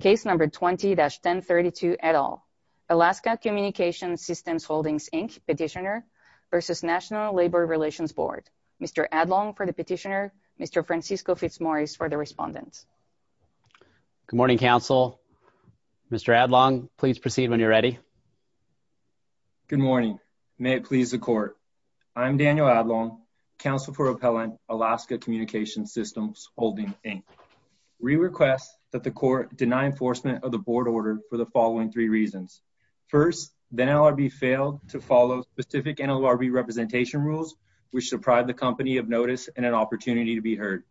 Case number 20-1032 et al. Alaska Communications Systems Holdings, Inc. Petitioner v. National Labor Relations Board. Mr. Adlong for the petitioner, Mr. Francisco Fitzmaurice for the respondent. Good morning council. Mr. Adlong, please proceed when you're ready. Good morning. May it please the court. I'm Daniel Adlong, counsel for appellant, Alaska Communications Systems Holdings, Inc. We request that the court deny enforcement of the board order for the following three reasons. First, the NLRB failed to follow specific NLRB representation rules which deprived the company of notice and an opportunity to be heard.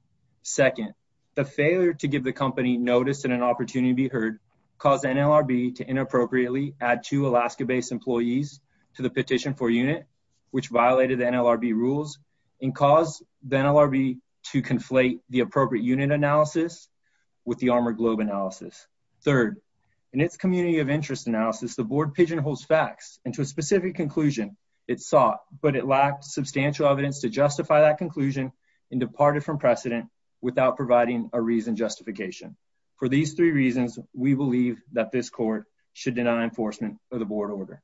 Second, the failure to give the company notice and an opportunity to be heard caused NLRB to inappropriately add two Alaska-based employees to the petition for unit which violated the NLRB rules and caused the NLRB to conflate the appropriate unit analysis with the armored globe analysis. Third, in its community of interest analysis, the board pigeonholes facts into a specific conclusion it sought but it lacked substantial evidence to justify that conclusion and departed from precedent without providing a reason justification. For these three reasons, we believe that this court should deny enforcement of the board order.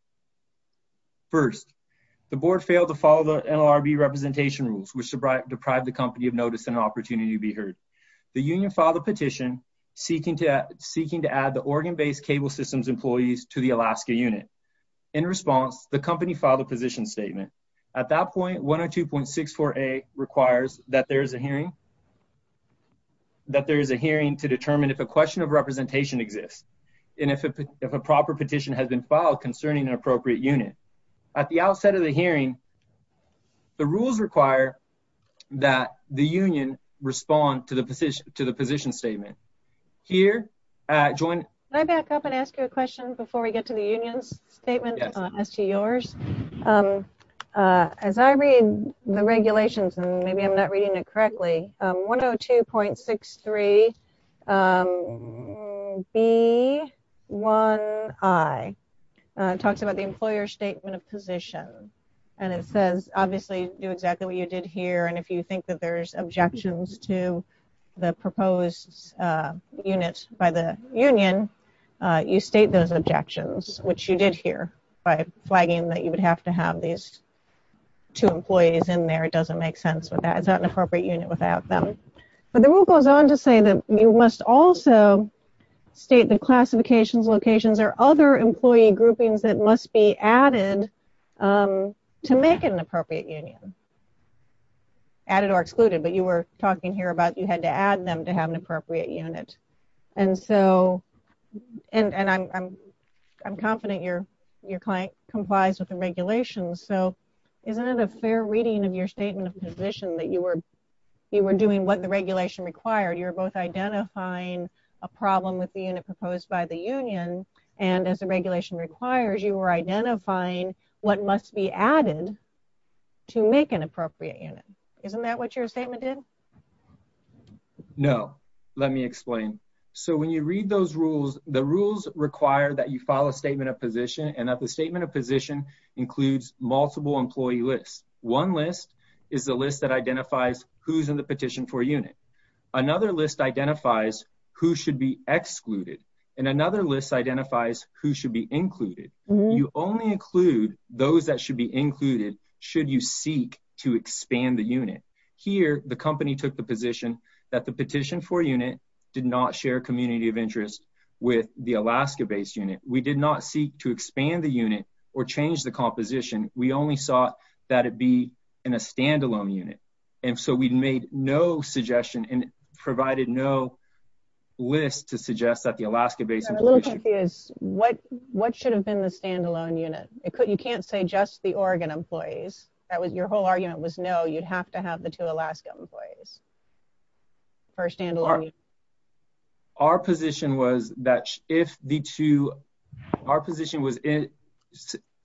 First, the board failed to follow the NLRB representation rules which deprived the company of notice and an opportunity to be heard. The union filed a petition seeking to add the Oregon-based Cable Systems employees to the Alaska unit. In response, the company filed a position statement. At that point, 102.64a requires that there is a hearing to determine if a question of representation exists and if a proper petition has been filed concerning an employee. The rules require that the union respond to the position statement. Can I back up and ask you a question before we get to the union's statement as to yours? As I read the regulations, and maybe I'm not reading it correctly, 102.63b1i talks about the employer's position and it says obviously do exactly what you did here and if you think that there's objections to the proposed unit by the union, you state those objections which you did here by flagging that you would have to have these two employees in there. It doesn't make sense with that. It's not an appropriate unit without them. But the rule goes on to say that you must also state the classifications, locations, or other employee groupings that must be added to make it an appropriate union. Added or excluded, but you were talking here about you had to add them to have an appropriate unit. I'm confident your client complies with the regulations, so isn't it a fair reading of your statement of position that you were doing what the regulation required? You're both identifying a problem with the unit proposed by the union and you're identifying what must be added to make an appropriate unit. Isn't that what your statement did? No, let me explain. So when you read those rules, the rules require that you file a statement of position and that the statement of position includes multiple employee lists. One list is the list that identifies who's in the petition for unit. Another list identifies who should be excluded and another list identifies who should be included. You only include those that should be included should you seek to expand the unit. Here, the company took the position that the petition for unit did not share community of interest with the Alaska-based unit. We did not seek to expand the unit or change the composition. We only saw that it be in a standalone unit, and so we made no suggestion and provided no list to suggest that the Alaska-based... What should have been the you can't say just the Oregon employees. Your whole argument was no, you'd have to have the two Alaska employees for a standalone unit. Our position was that if the two, our position was it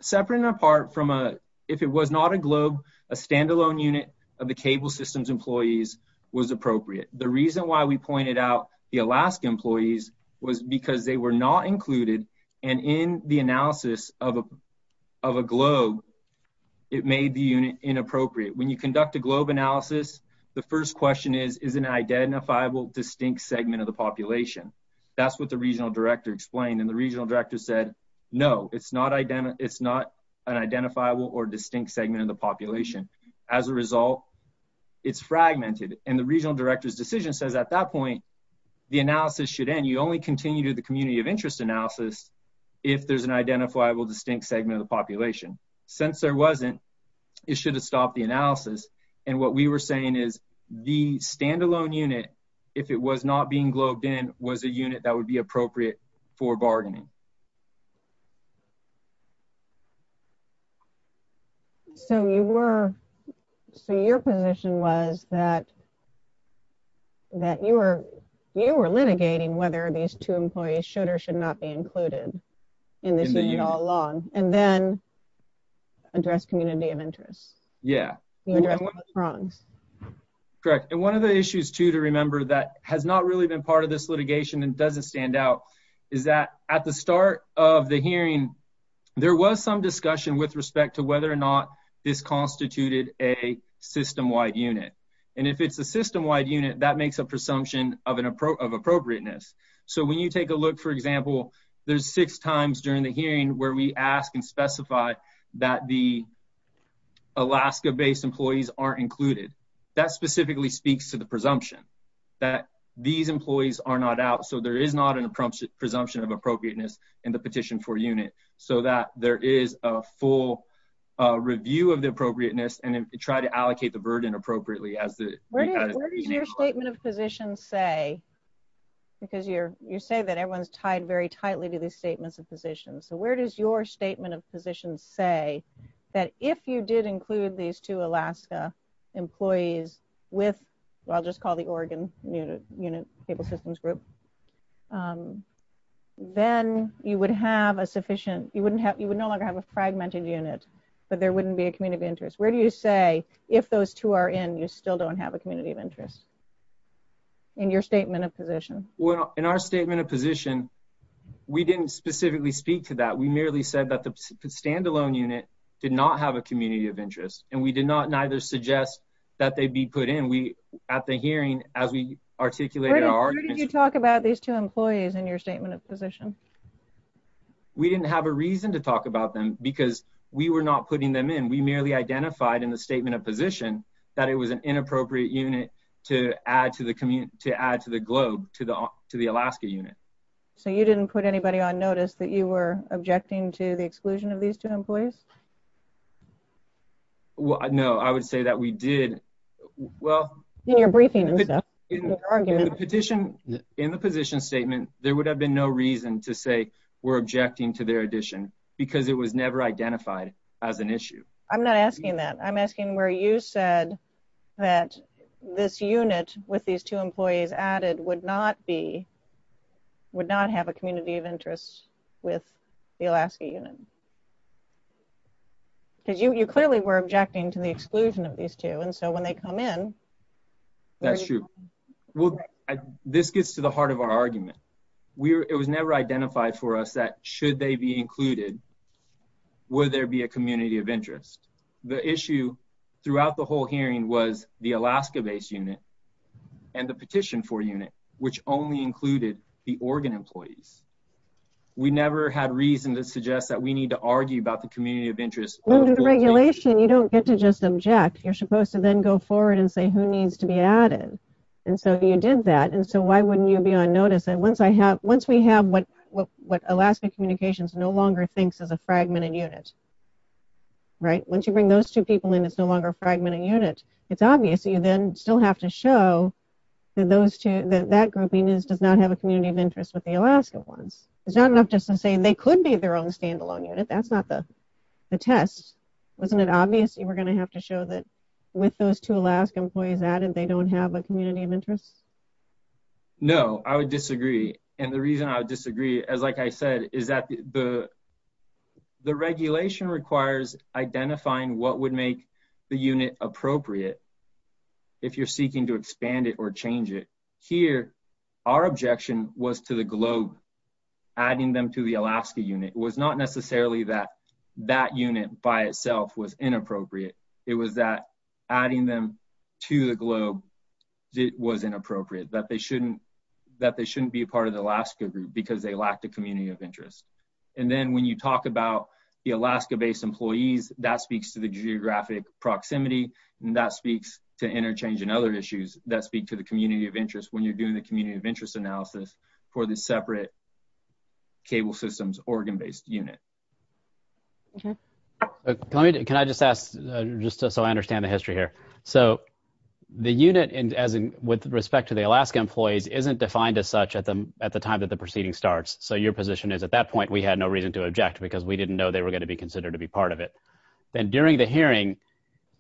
separate and apart from a, if it was not a GLOBE, a standalone unit of the cable systems employees was appropriate. The reason why we pointed out the Alaska employees was because they were not included and in the analysis of a GLOBE, it made the unit inappropriate. When you conduct a GLOBE analysis, the first question is, is an identifiable distinct segment of the population? That's what the regional director explained and the regional director said, no, it's not an identifiable or distinct segment of the population. As a result, it's fragmented and the regional director's decision says at that point, the analysis should end. You only continue to do the identifyable distinct segment of the population. Since there wasn't, it should have stopped the analysis and what we were saying is the standalone unit, if it was not being GLOBED in, was a unit that would be appropriate for bargaining. So you were, so your position was that, that you were, you were litigating whether these two employees should or should not be included in this unit all along and then address community of interest. Yeah. Correct. And one of the issues too, to remember that has not really been part of this litigation and doesn't stand out is that at the start of the hearing, there was some discussion with respect to whether or not this constituted a system wide unit. And if it's a system wide unit, that makes a presumption of an approach of appropriateness. So when you take a look, for example, there's six times during the hearing where we ask and specify that the Alaska based employees aren't included. That specifically speaks to the presumption that these employees are not out. So there is not an appropriate presumption of appropriateness in the petition for unit so that there is a full review of the appropriateness and try to allocate the burden appropriately as the position say, because you're, you're saying that everyone's tied very tightly to these statements of positions. So where does your statement of position say that if you did include these two Alaska employees with, I'll just call the Oregon unit table systems group, then you would have a sufficient, you wouldn't have, you would no longer have a fragmented unit, but there wouldn't be a community interest. Where do you say if those two are in, you still don't have a community of interest in your statement of position? Well, in our statement of position, we didn't specifically speak to that. We merely said that the stand alone unit did not have a community of interest, and we did not neither suggest that they be put in. We at the hearing as we articulate our talk about these two employees in your statement of position, we didn't have a reason to talk about them because we were not putting them in. We merely identified in the statement of position that it was an inappropriate unit to add to the commute to add to the globe to the to the Alaska unit. So you didn't put anybody on notice that you were objecting to the exclusion of these two employees? Well, no, I would say that we did. Well, you're briefing argument petition in the position statement. There would have been no reason to say we're objecting to their addition because it was never identified as an issue. I'm not asking that. I'm asking where you said that this unit with these two employees added would not be would not have a community of interest with the Alaska unit because you clearly were objecting to the exclusion of these two. And so when they come in, that's true. Well, this gets to the heart of our argument. It was never identified for us that should they be included would there be a community of interest. The issue throughout the whole hearing was the Alaska based unit and the petition for unit, which only included the Oregon employees. We never had reason to suggest that we need to argue about the community of interest. Under the regulation, you don't get to just object, you're supposed to then go forward and say who needs to be added. And so you did that. And so why wouldn't you be on notice that once I have once we have what what what Alaska communications no longer thinks is a fragmented unit? Right? Once you bring those two people in, it's no longer a fragmented unit. It's obvious that you then still have to show that those two that that grouping is does not have a community of interest with the Alaska ones. It's not enough just to say they could be their own standalone unit. That's not the test. Wasn't it obvious you were going to have to show that with those two Alaska employees added they don't have a community of interest? No, I would disagree. And the reason I would disagree as like I said, is that the the regulation requires identifying what would make the unit appropriate. If you're seeking to expand it or change it here, our objection was to the globe, adding them to the Alaska unit was not necessarily that that unit by itself was inappropriate, that they shouldn't, that they shouldn't be a part of the Alaska group, because they lacked a community of interest. And then when you talk about the Alaska based employees, that speaks to the geographic proximity, and that speaks to interchange and other issues that speak to the community of interest when you're doing the community of interest analysis for the separate cable systems, Oregon based unit. Can I can I just ask, just so I understand the history here. So the unit as in with respect to the Alaska employees isn't defined as such at the at the time that the proceeding starts. So your position is at that point, we had no reason to object because we didn't know they were going to be considered to be part of it. Then during the hearing,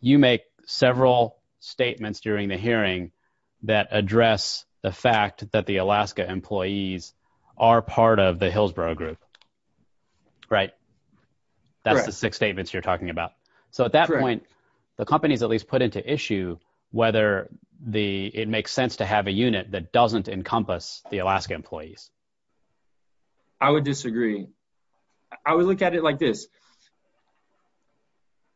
you make several statements during the hearing that address the fact that the Alaska employees are part of the Hillsborough group. Right? That's the six statements you're talking about. So at that point, the company's at least put into issue, whether the it makes sense to have a unit that doesn't encompass the Alaska employees. I would disagree. I would look at it like this.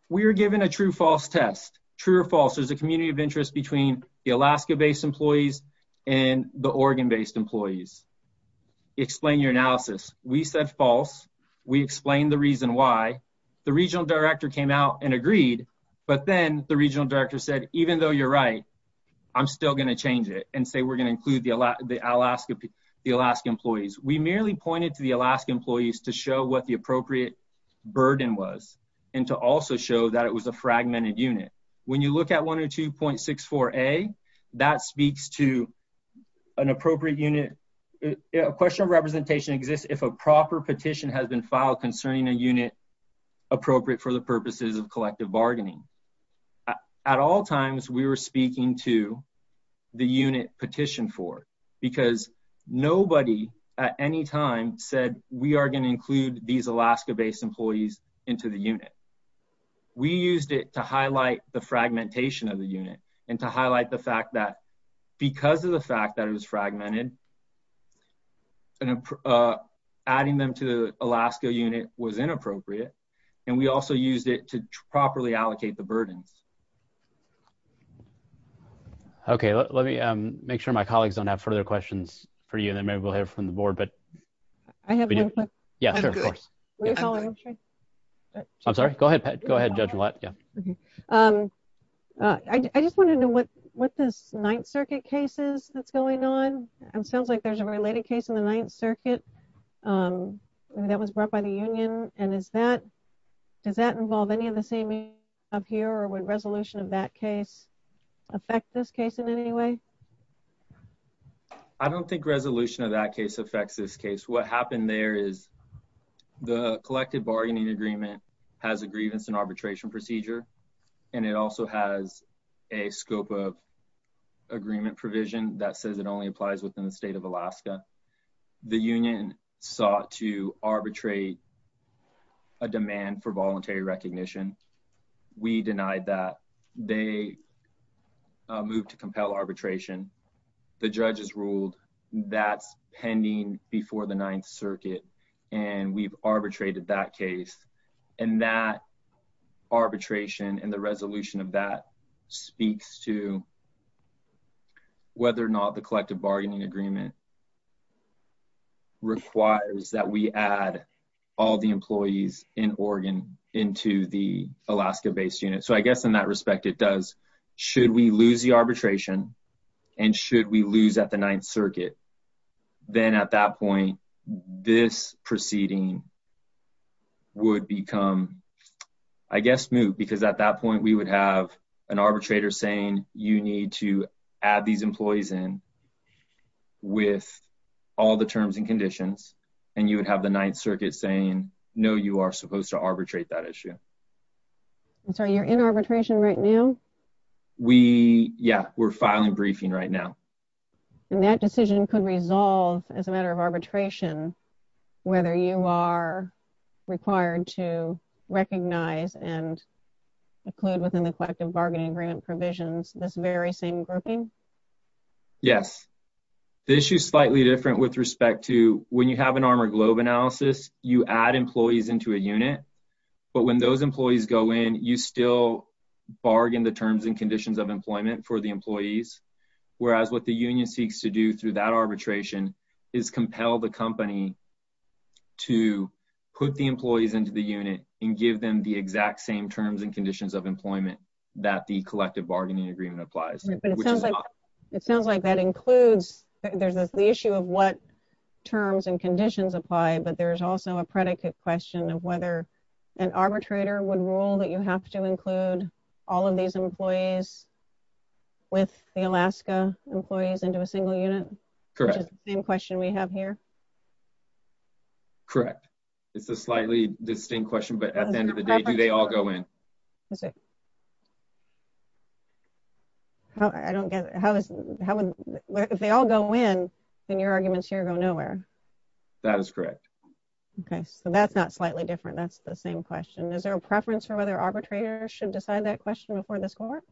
We were given a true false test, true or false, there's a community of interest between the Alaska based employees, and the Oregon based employees. Explain your analysis. We said false. We explained the reason why the regional director came out and agreed. But then the regional director said, even though you're right, I'm still going to change it and say we're going to include the Alaska, the Alaska employees, we merely pointed to the Alaska employees to show what the appropriate burden was, and to also show that it was a fragmented unit. When you look at 102.64a, that speaks to an appropriate unit. A question of representation exists if a proper petition has been filed concerning a appropriate for the purposes of collective bargaining. At all times, we were speaking to the unit petition for because nobody at any time said we are going to include these Alaska based employees into the unit. We used it to highlight the fragmentation of the unit and to highlight the fact that because of the fact that it was fragmented, and adding them to the Alaska unit was inappropriate. And we also used it to properly allocate the burdens. Okay, let me make sure my colleagues don't have further questions for you. And then maybe we'll hear from the board. But I have. Yeah, sure. I'm sorry. Go ahead. Go ahead. Judge. I just want to know what what this Ninth Circuit cases that's going on. It sounds like there's a related case in the Ninth Circuit that was brought by the union. And is that does that involve any of the same up here or when resolution of that case affect this case in any way? I don't think resolution of that case affects this case. What happened there is the collective bargaining agreement has a grievance and arbitration procedure. And it also has a scope of agreement provision that says it only applies within the state of Alaska. The union sought to arbitrate a demand for voluntary recognition. We denied that they moved to compel arbitration. The judges ruled that's pending before the Ninth Circuit. And we've arbitrated that case. And that agreement requires that we add all the employees in Oregon into the Alaska based unit. So I guess in that respect, it does. Should we lose the arbitration? And should we lose at the Ninth Circuit? Then at that point, this proceeding would become, I guess, moot, because at that point, we would have an arbitrator saying you need to add these employees in with all the terms and conditions. And you would have the Ninth Circuit saying, no, you are supposed to arbitrate that issue. So you're in arbitration right now? We Yeah, we're filing briefing right now. And that decision could resolve as a matter of arbitration, whether you are required to recognize and include within the collective bargaining agreement provisions, this very grouping. Yes. This is slightly different with respect to when you have an armor globe analysis, you add employees into a unit. But when those employees go in, you still bargain the terms and conditions of employment for the employees. Whereas what the union seeks to do through that arbitration is compel the company to put the employees into the unit and give them the exact same terms and conditions of employment that the collective bargaining agreement applies. It sounds like that includes, there's the issue of what terms and conditions apply. But there's also a predicate question of whether an arbitrator would rule that you have to include all of these employees with the Alaska employees into a single unit? Correct. Same question we have here. Correct. It's a slightly distinct question. But at the end of the day, do they all go in? Is it? I don't get it. If they all go in, then your arguments here go nowhere. That is correct. Okay. So that's not slightly different. That's the same question. Is there a preference for whether arbitrators should decide that question before the score?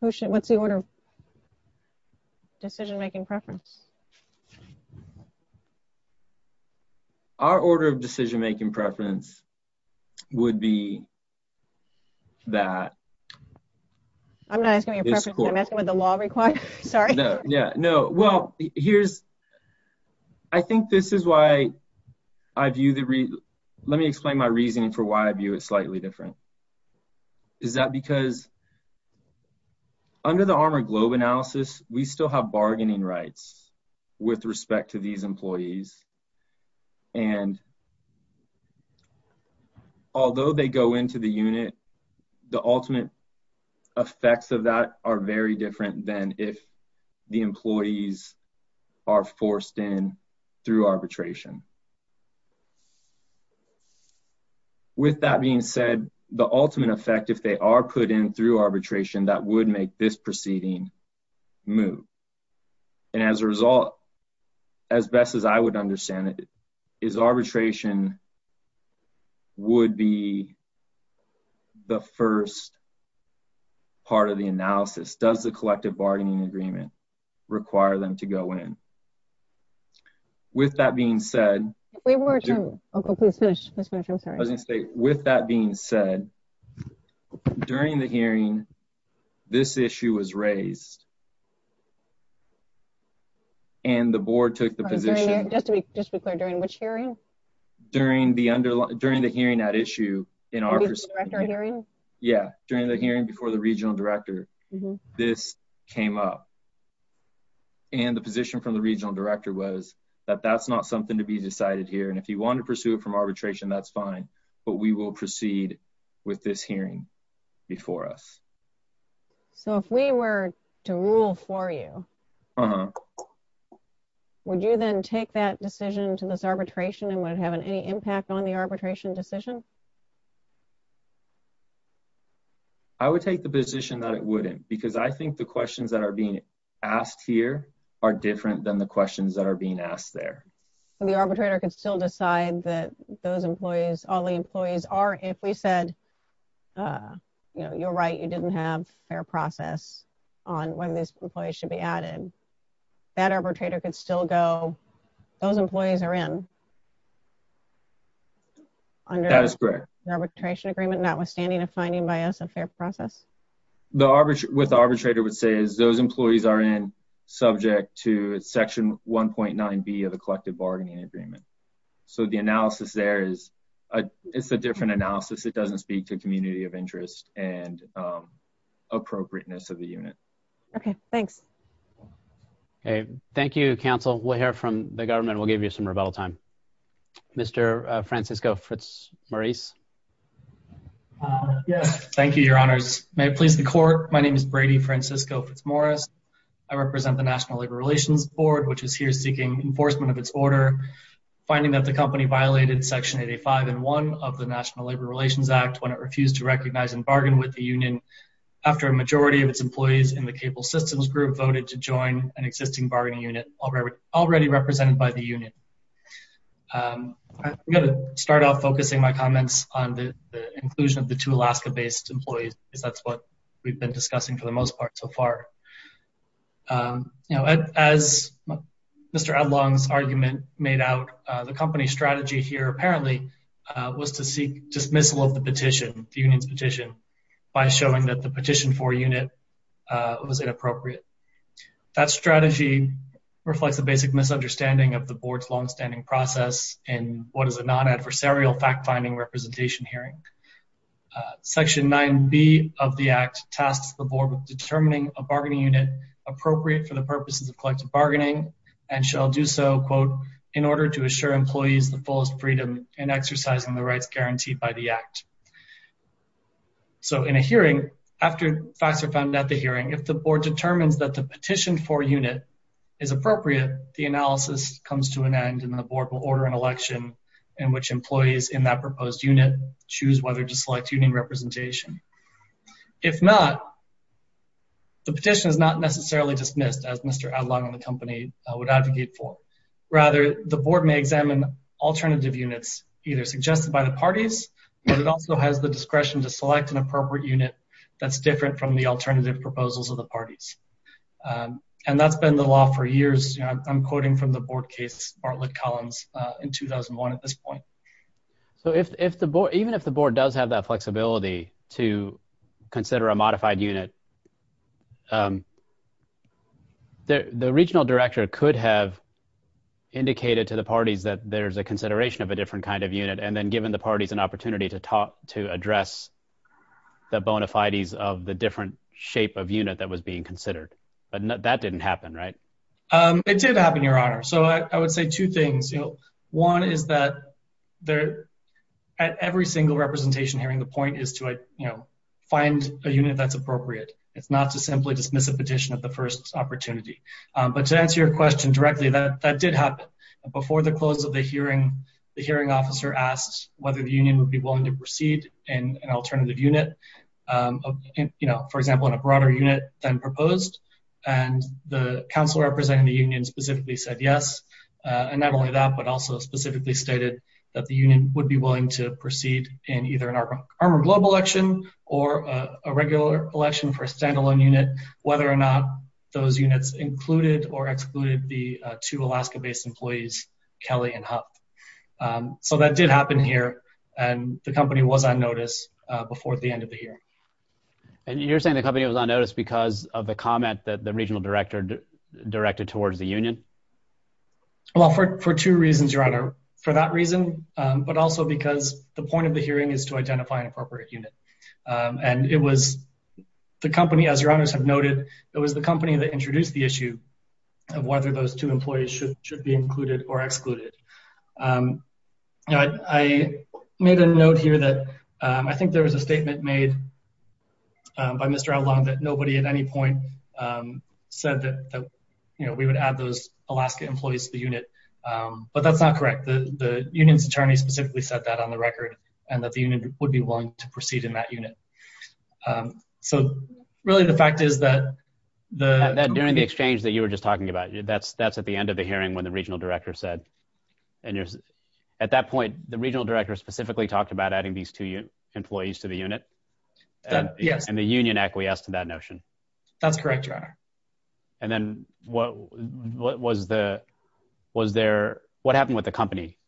What's the order of decision-making preference? Our order of decision-making preference would be that. I'm not asking your preference. I'm asking what the law requires. Sorry. Yeah. No. Well, here's, I think this is why I view the, let me explain my reasoning for why I view it slightly different. Is that because under the Armour Globe analysis, we still have bargaining rights. With respect to these employees. And although they go into the unit, the ultimate effects of that are very different than if the employees are forced in through arbitration. With that being said, the ultimate effect, if they are put in through arbitration, that would make this proceeding move. And as a result, as best as I would understand it, is arbitration would be the first part of the analysis. Does the collective bargaining agreement require them to go in? With that being said. Wait one more time. Okay. Please finish. I'm With that being said, during the hearing, this issue was raised. And the board took the position. Just to be clear, during which hearing? During the hearing at issue. During the regional director hearing? Yeah. During the hearing before the regional director, this came up. And the position from the regional director was that that's not something to be decided here. And if you want to pursue it from arbitration, that's fine. But we will proceed with this hearing before us. So if we were to rule for you, would you then take that decision to this arbitration and would it have any impact on the arbitration decision? I would take the position that it wouldn't. Because I think the questions that are being asked here are different than the questions that are being asked there. The arbitrator could still decide that those employees, all the employees are, if we said, you know, you're right, you didn't have fair process on when these employees should be added. That arbitrator could still go, those employees are in. That is correct. Under the arbitration agreement, notwithstanding a finding by us of fair process. What the arbitrator would say is those employees are in subject to section 1.9b of the collective bargaining agreement. So the analysis there is, it's a different analysis. It doesn't speak to community of interest and appropriateness of the unit. Okay, thanks. Okay, thank you, counsel. We'll hear from the government. We'll give you some rebuttal time. Mr. Francisco Fritz-Maurice. Yes, thank you, your honors. May it please the court. My name is Brady Francisco Fritz-Maurice. I represent the National Labor Relations Board, which is here seeking enforcement of its order, finding that the company violated section 85 and 1 of the National Labor Relations Act when it refused to recognize and bargain with the union after a majority of its employees in the cable systems group voted to join an existing bargaining unit already represented by the union. I'm going to start off focusing my comments on the inclusion of the two Alaska-based employees because that's what we've been discussing for the most part so far. You know, as Mr. Edlong's argument made out, the company strategy here apparently was to seek dismissal of the petition, the union's petition, by showing that the petition for a unit was inappropriate. That strategy reflects the basic misunderstanding of the board's long-standing process in what is a non-adversarial fact-finding representation hearing. Section 9b of the act tasks the board with determining a bargaining unit appropriate for the purposes of collective bargaining and shall do so, quote, in order to assure employees the fullest freedom in exercising the rights guaranteed by the act. So in a hearing, after facts are found at the hearing, if the board determines that the petition for a unit is appropriate, the analysis comes to an end and the board will order an election in which employees in that proposed unit choose whether to select union representation. If not, the petition is not necessarily dismissed, as Mr. Edlong and the company would advocate for. Rather, the board may examine alternative units either suggested by the parties, but it also has the discretion to select an appropriate unit that's from the alternative proposals of the parties. And that's been the law for years. I'm quoting from the board case Bartlett-Collins in 2001 at this point. So if the board, even if the board does have that flexibility to consider a modified unit, the regional director could have indicated to the parties that there's a consideration of a different kind of unit, and then given the parties an opportunity to address the bona fides of the different shape of unit that was being considered. But that didn't happen, right? It did happen, Your Honor. So I would say two things. One is that at every single representation hearing, the point is to find a unit that's appropriate. It's not to simply dismiss a petition at the first opportunity. But to answer your question directly, that did happen. Before the close of the hearing, the hearing officer asked whether the union would be willing to proceed in an alternative unit, for example, in a broader unit than proposed. And the council representing the union specifically said yes. And not only that, but also specifically stated that the union would be willing to proceed in either an armored global election or a regular election for a standalone unit, whether or not those units included or excluded the two Alaska employees, Kelly and Huff. So that did happen here. And the company was on notice before the end of the year. And you're saying the company was on notice because of the comment that the regional director directed towards the union? Well, for two reasons, Your Honor, for that reason, but also because the point of the hearing is to identify an appropriate unit. And it was the company, as Your Honors have noted, it was the company that introduced the issue of whether those two employees should be included or excluded. I made a note here that I think there was a statement made by Mr. Outlaw that nobody at any point said that, you know, we would add those Alaska employees to the unit. But that's not correct. The union's attorney specifically said that on the record, and that the union would be willing to proceed in that unit. So really, the fact is that the... That during the exchange that you were just talking about, that's at the end of the hearing when the regional director said, and at that point, the regional director specifically talked about adding these two employees to the unit. Yes. And the union acquiesced to that notion. That's correct, Your Honor. And then what happened with the company?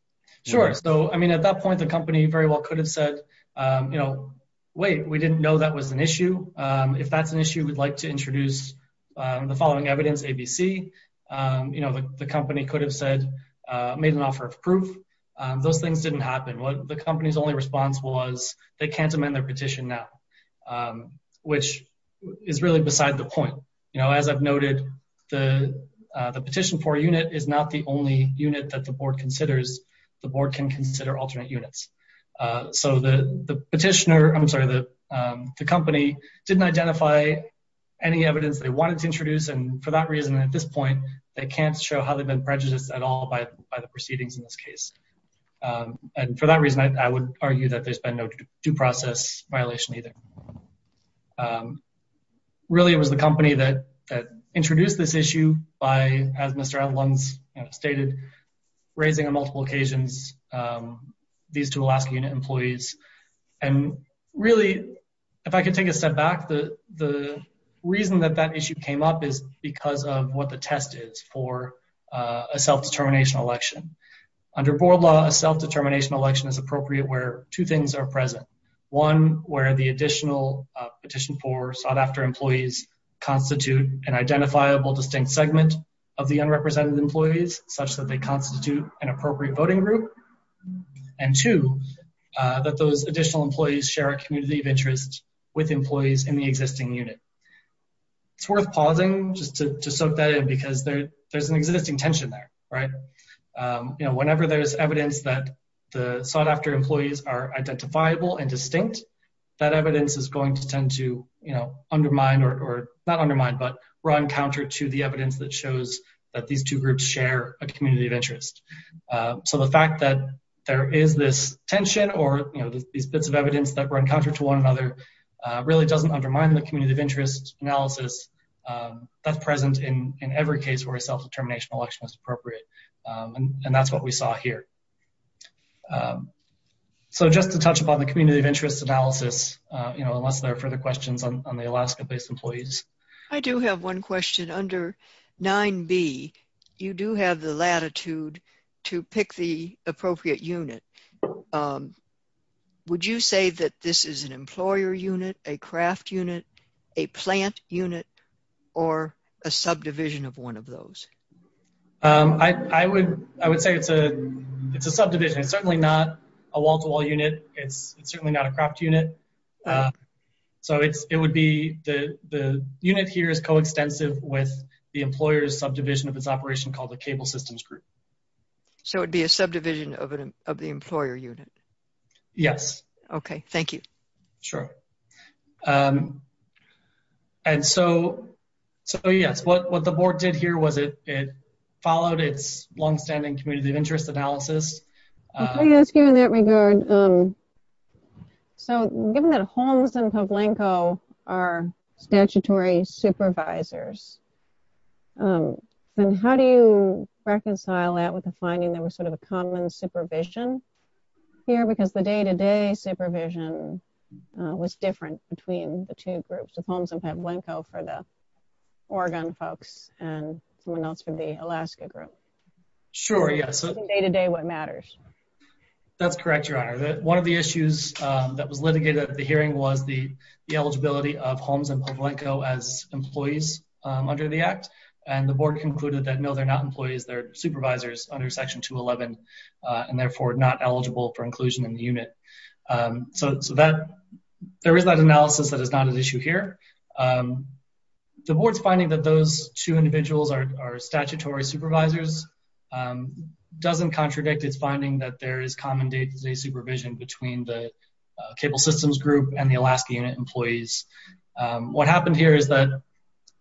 Sure. So I mean, at that point, the company very well could have said, you know, wait, we didn't know that was an issue. If that's an issue, we'd like to introduce the following evidence, ABC. You know, the company could have said, made an offer of proof. Those things didn't happen. The company's only response was they can't amend their petition now, which is really beside the point. You know, as I've noted, the petition for a unit is not the only unit that the board considers. The board can consider alternate units. So the petitioner, I'm sorry, the company didn't identify any evidence they wanted to introduce. And for that reason, at this point, they can't show how they've been prejudiced at all by the proceedings in this case. And for that reason, I would argue that there's been no due process violation either. Really, it was the company that introduced this issue by, as Mr. Edlunds stated, raising on multiple occasions these two Alaska unit employees. And really, if I could take a step back, the reason that that issue came up is because of what the test is for a self-determination election. Under board law, a self-determination election is appropriate where two things are present. One, where the additional petition for sought after employees constitute an identifiable distinct segment of the unrepresented employees such that they constitute an appropriate voting group. And two, that those additional employees share a community of interest with employees in the existing unit. It's worth pausing just to soak that in because there's an existing tension there, right? You know, whenever there's evidence that the sought after employees are identifiable and distinct, that evidence is going to tend to, undermine or not undermine, but run counter to the evidence that shows that these two groups share a community of interest. So the fact that there is this tension or these bits of evidence that run counter to one another really doesn't undermine the community of interest analysis that's present in every case where a self-determination election is appropriate. And that's what we saw here. So just to touch upon the community of interest analysis, you know, unless there are further questions on the Alaska-based employees. I do have one question. Under 9b, you do have the latitude to pick the appropriate unit. Would you say that this is an employer unit, a craft unit, a plant unit, or a subdivision of one of those? I would say it's a subdivision. It's certainly not a wall-to-wall unit. It's certainly not a craft unit. So it would be, the unit here is co-extensive with the employer's subdivision of its operation called the Cable Systems Group. So it'd be a subdivision of the employer unit? Yes. Okay. Thank you. Sure. And so, yes, what the board did here was it followed its longstanding community of interest analysis. Let me ask you in that regard. So given that Holmes and Pavlenko are statutory supervisors, then how do you reconcile that with the finding there was sort of a common supervision here? Because the day-to-day supervision was different between the two groups of Holmes and Pavlenko for the Oregon folks and someone else from the Alaska group. Sure, yes. Day-to-day, what matters? That's correct, Your Honor. One of the issues that was litigated at the hearing was the eligibility of Holmes and Pavlenko as employees under the Act, and the board concluded that no, they're not employees. They're supervisors under Section 211 and therefore not eligible for inclusion in the unit. So there is that analysis that is not an issue for the supervisors. It doesn't contradict its finding that there is common day-to-day supervision between the Cable Systems Group and the Alaska unit employees. What happened here is that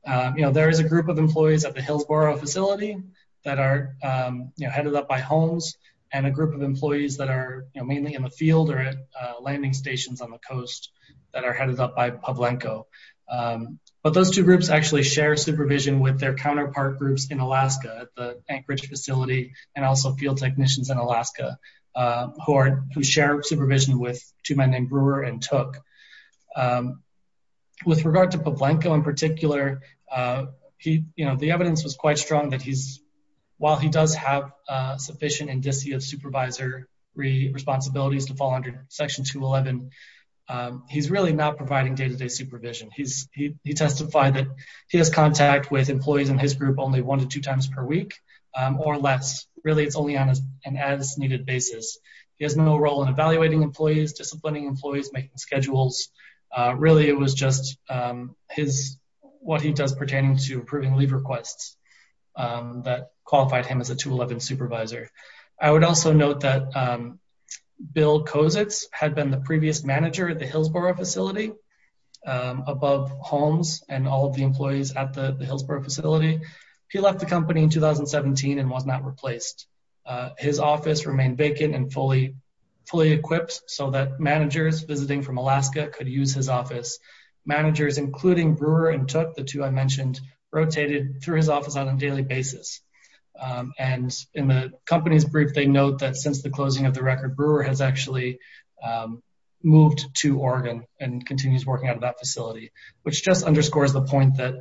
there is a group of employees at the Hillsboro facility that are headed up by Holmes and a group of employees that are mainly in the field or at landing stations on the coast that are headed up by Pavlenko. But those two groups actually share supervision with their Anchorage facility and also field technicians in Alaska who share supervision with two men named Brewer and Took. With regard to Pavlenko in particular, the evidence was quite strong that while he does have sufficient and DC of supervisory responsibilities to fall under Section 211, he's really not providing day-to-day supervision. He testified that he has contact with employees in his group only one to two times per week or less. Really, it's only on an as-needed basis. He has no role in evaluating employees, disciplining employees, making schedules. Really, it was just what he does pertaining to approving leave requests that qualified him as a 211 supervisor. I would also note that Bill Kozets had been the previous manager at the Hillsboro facility above Holmes and all of the employees at the Hillsboro facility. He left the company in 2017 and was not replaced. His office remained vacant and fully equipped so that managers visiting from Alaska could use his office. Managers including Brewer and Took, the two I mentioned, rotated through his office on a daily basis. In the company's brief, they note that since the closing of the record, Brewer has actually moved to Oregon and continues working out of that facility, which just underscores the point that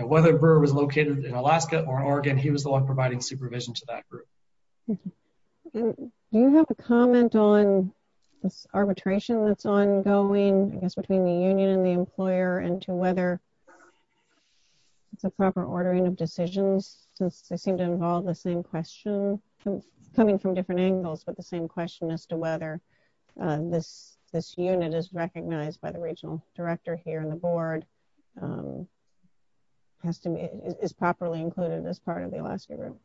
whether Brewer was located in Alaska or Oregon, he was the one providing supervision to that group. Do you have a comment on this arbitration that's ongoing, I guess, between the union and the employer and to whether it's a proper ordering of decisions since they seem to involve the same question coming from different angles, but the same question as to whether this unit is recognized by the regional director here and the board is properly included as part of the Alaska group?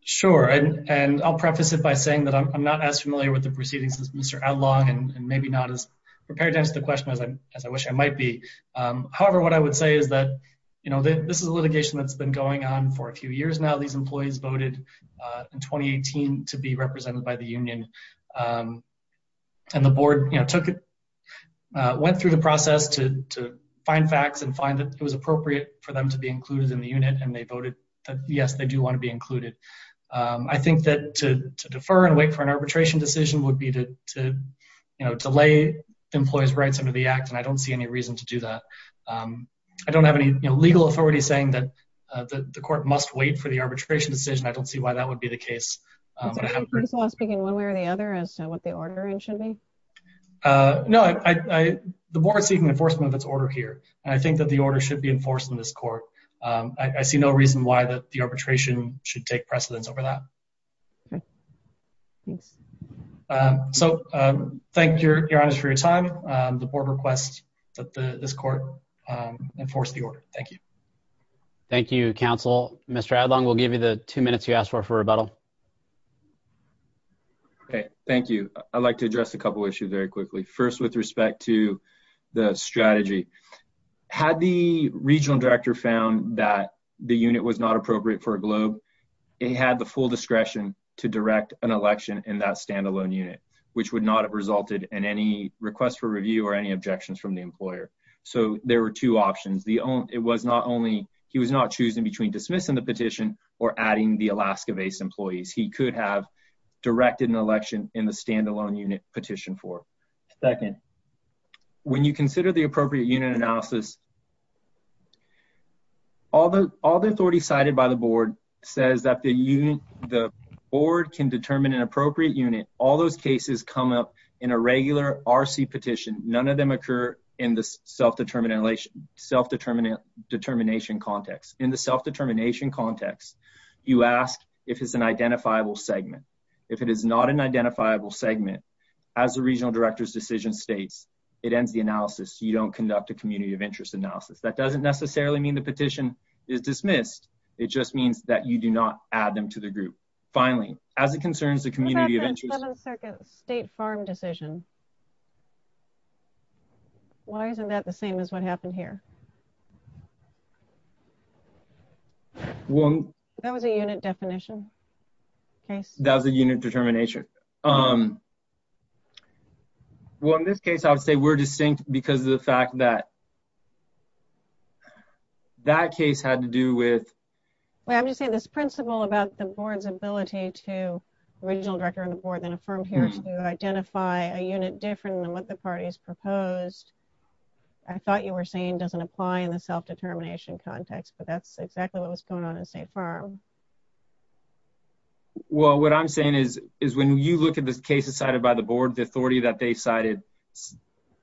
Sure, and I'll preface it by saying that I'm not as familiar with the proceedings as Mr. Adlong and maybe not as prepared to answer the question as I wish I might be. However, what I would say is that this is a litigation that's been going on for a few years now. These employees voted in 2018 to be represented by the union, and the board went through the process to find facts and find that it was appropriate for them to be included in the unit, and they voted that, yes, they do want to be included. I think that to defer and wait for an arbitration decision would be to delay the employee's rights under the act, and I don't see any reason to do that. I don't have any legal authority saying that the court must wait for the arbitration decision. I don't see why that would be the case, but I haven't heard... Is the case law speaking one way or the other as to what the order should be? No, the board is seeking enforcement of its order here, and I think that the order should be enforced in this court. I see no reason why the arbitration should take precedence over that. Thanks. So, thank you, Your Honor, for your time. The board requests that this court enforce the order. Thank you. Thank you, counsel. Mr. Adlong, we'll give you the two minutes you asked for for rebuttal. Okay, thank you. I'd like to address a couple issues very quickly. First, with respect to the strategy. Had the regional director found that the unit was not appropriate for a globe, it had the full discretion to direct an election in that standalone unit, which would not have resulted in any request for review or any objections from the employer. So, there were two options. It was not only... He was not choosing between dismissing the petition or adding the Alaska-based employees. He could have directed an election in the standalone unit petition for. Second, when you consider the appropriate unit analysis, all the authority cited by the board says that the board can determine an appropriate unit. All those cases come up in a regular RC petition. None of them occur in the self-determination context. In the self-determination context, you ask if it's an identifiable segment. If it is not an identifiable segment, as the regional director's decision states, it ends the analysis. You don't conduct a community of interest analysis. That doesn't necessarily mean the petition is dismissed. It just means that you do not add them to the group. Finally, as it concerns the community of interest... The 11th Circuit State Farm decision. Why isn't that the same as what happened here? That was a unit definition case. That was a unit determination. Well, in this case, I would say we're distinct because of the fact that that case had to do with... to the regional director and the board, then a firm here to identify a unit different than what the parties proposed. I thought you were saying doesn't apply in the self-determination context, but that's exactly what was going on in State Farm. Well, what I'm saying is when you look at the cases cited by the board, the authority that they cited,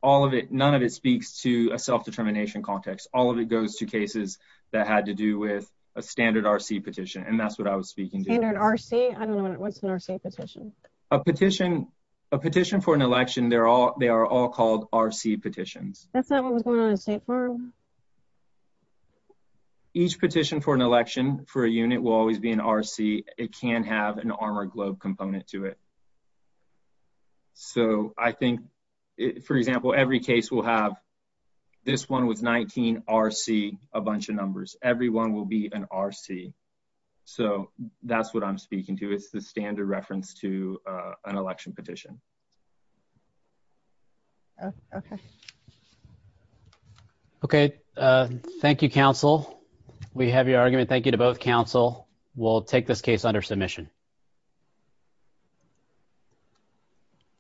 all of it, none of it speaks to a self-determination context. All of it goes to cases that had to do with a standard RC petition, and that's what I was speaking to. I don't know what's an RC petition. A petition for an election, they are all called RC petitions. That's not what was going on in State Farm? Each petition for an election for a unit will always be an RC. It can have an Armour Globe component to it. So I think, for example, every case will have this one with 19 RC, a bunch of numbers. Every one will be an RC. So that's what I'm speaking to. It's the standard reference to an election petition. Okay. Okay. Thank you, counsel. We have your argument. Thank you to both counsel. We'll take this case under submission.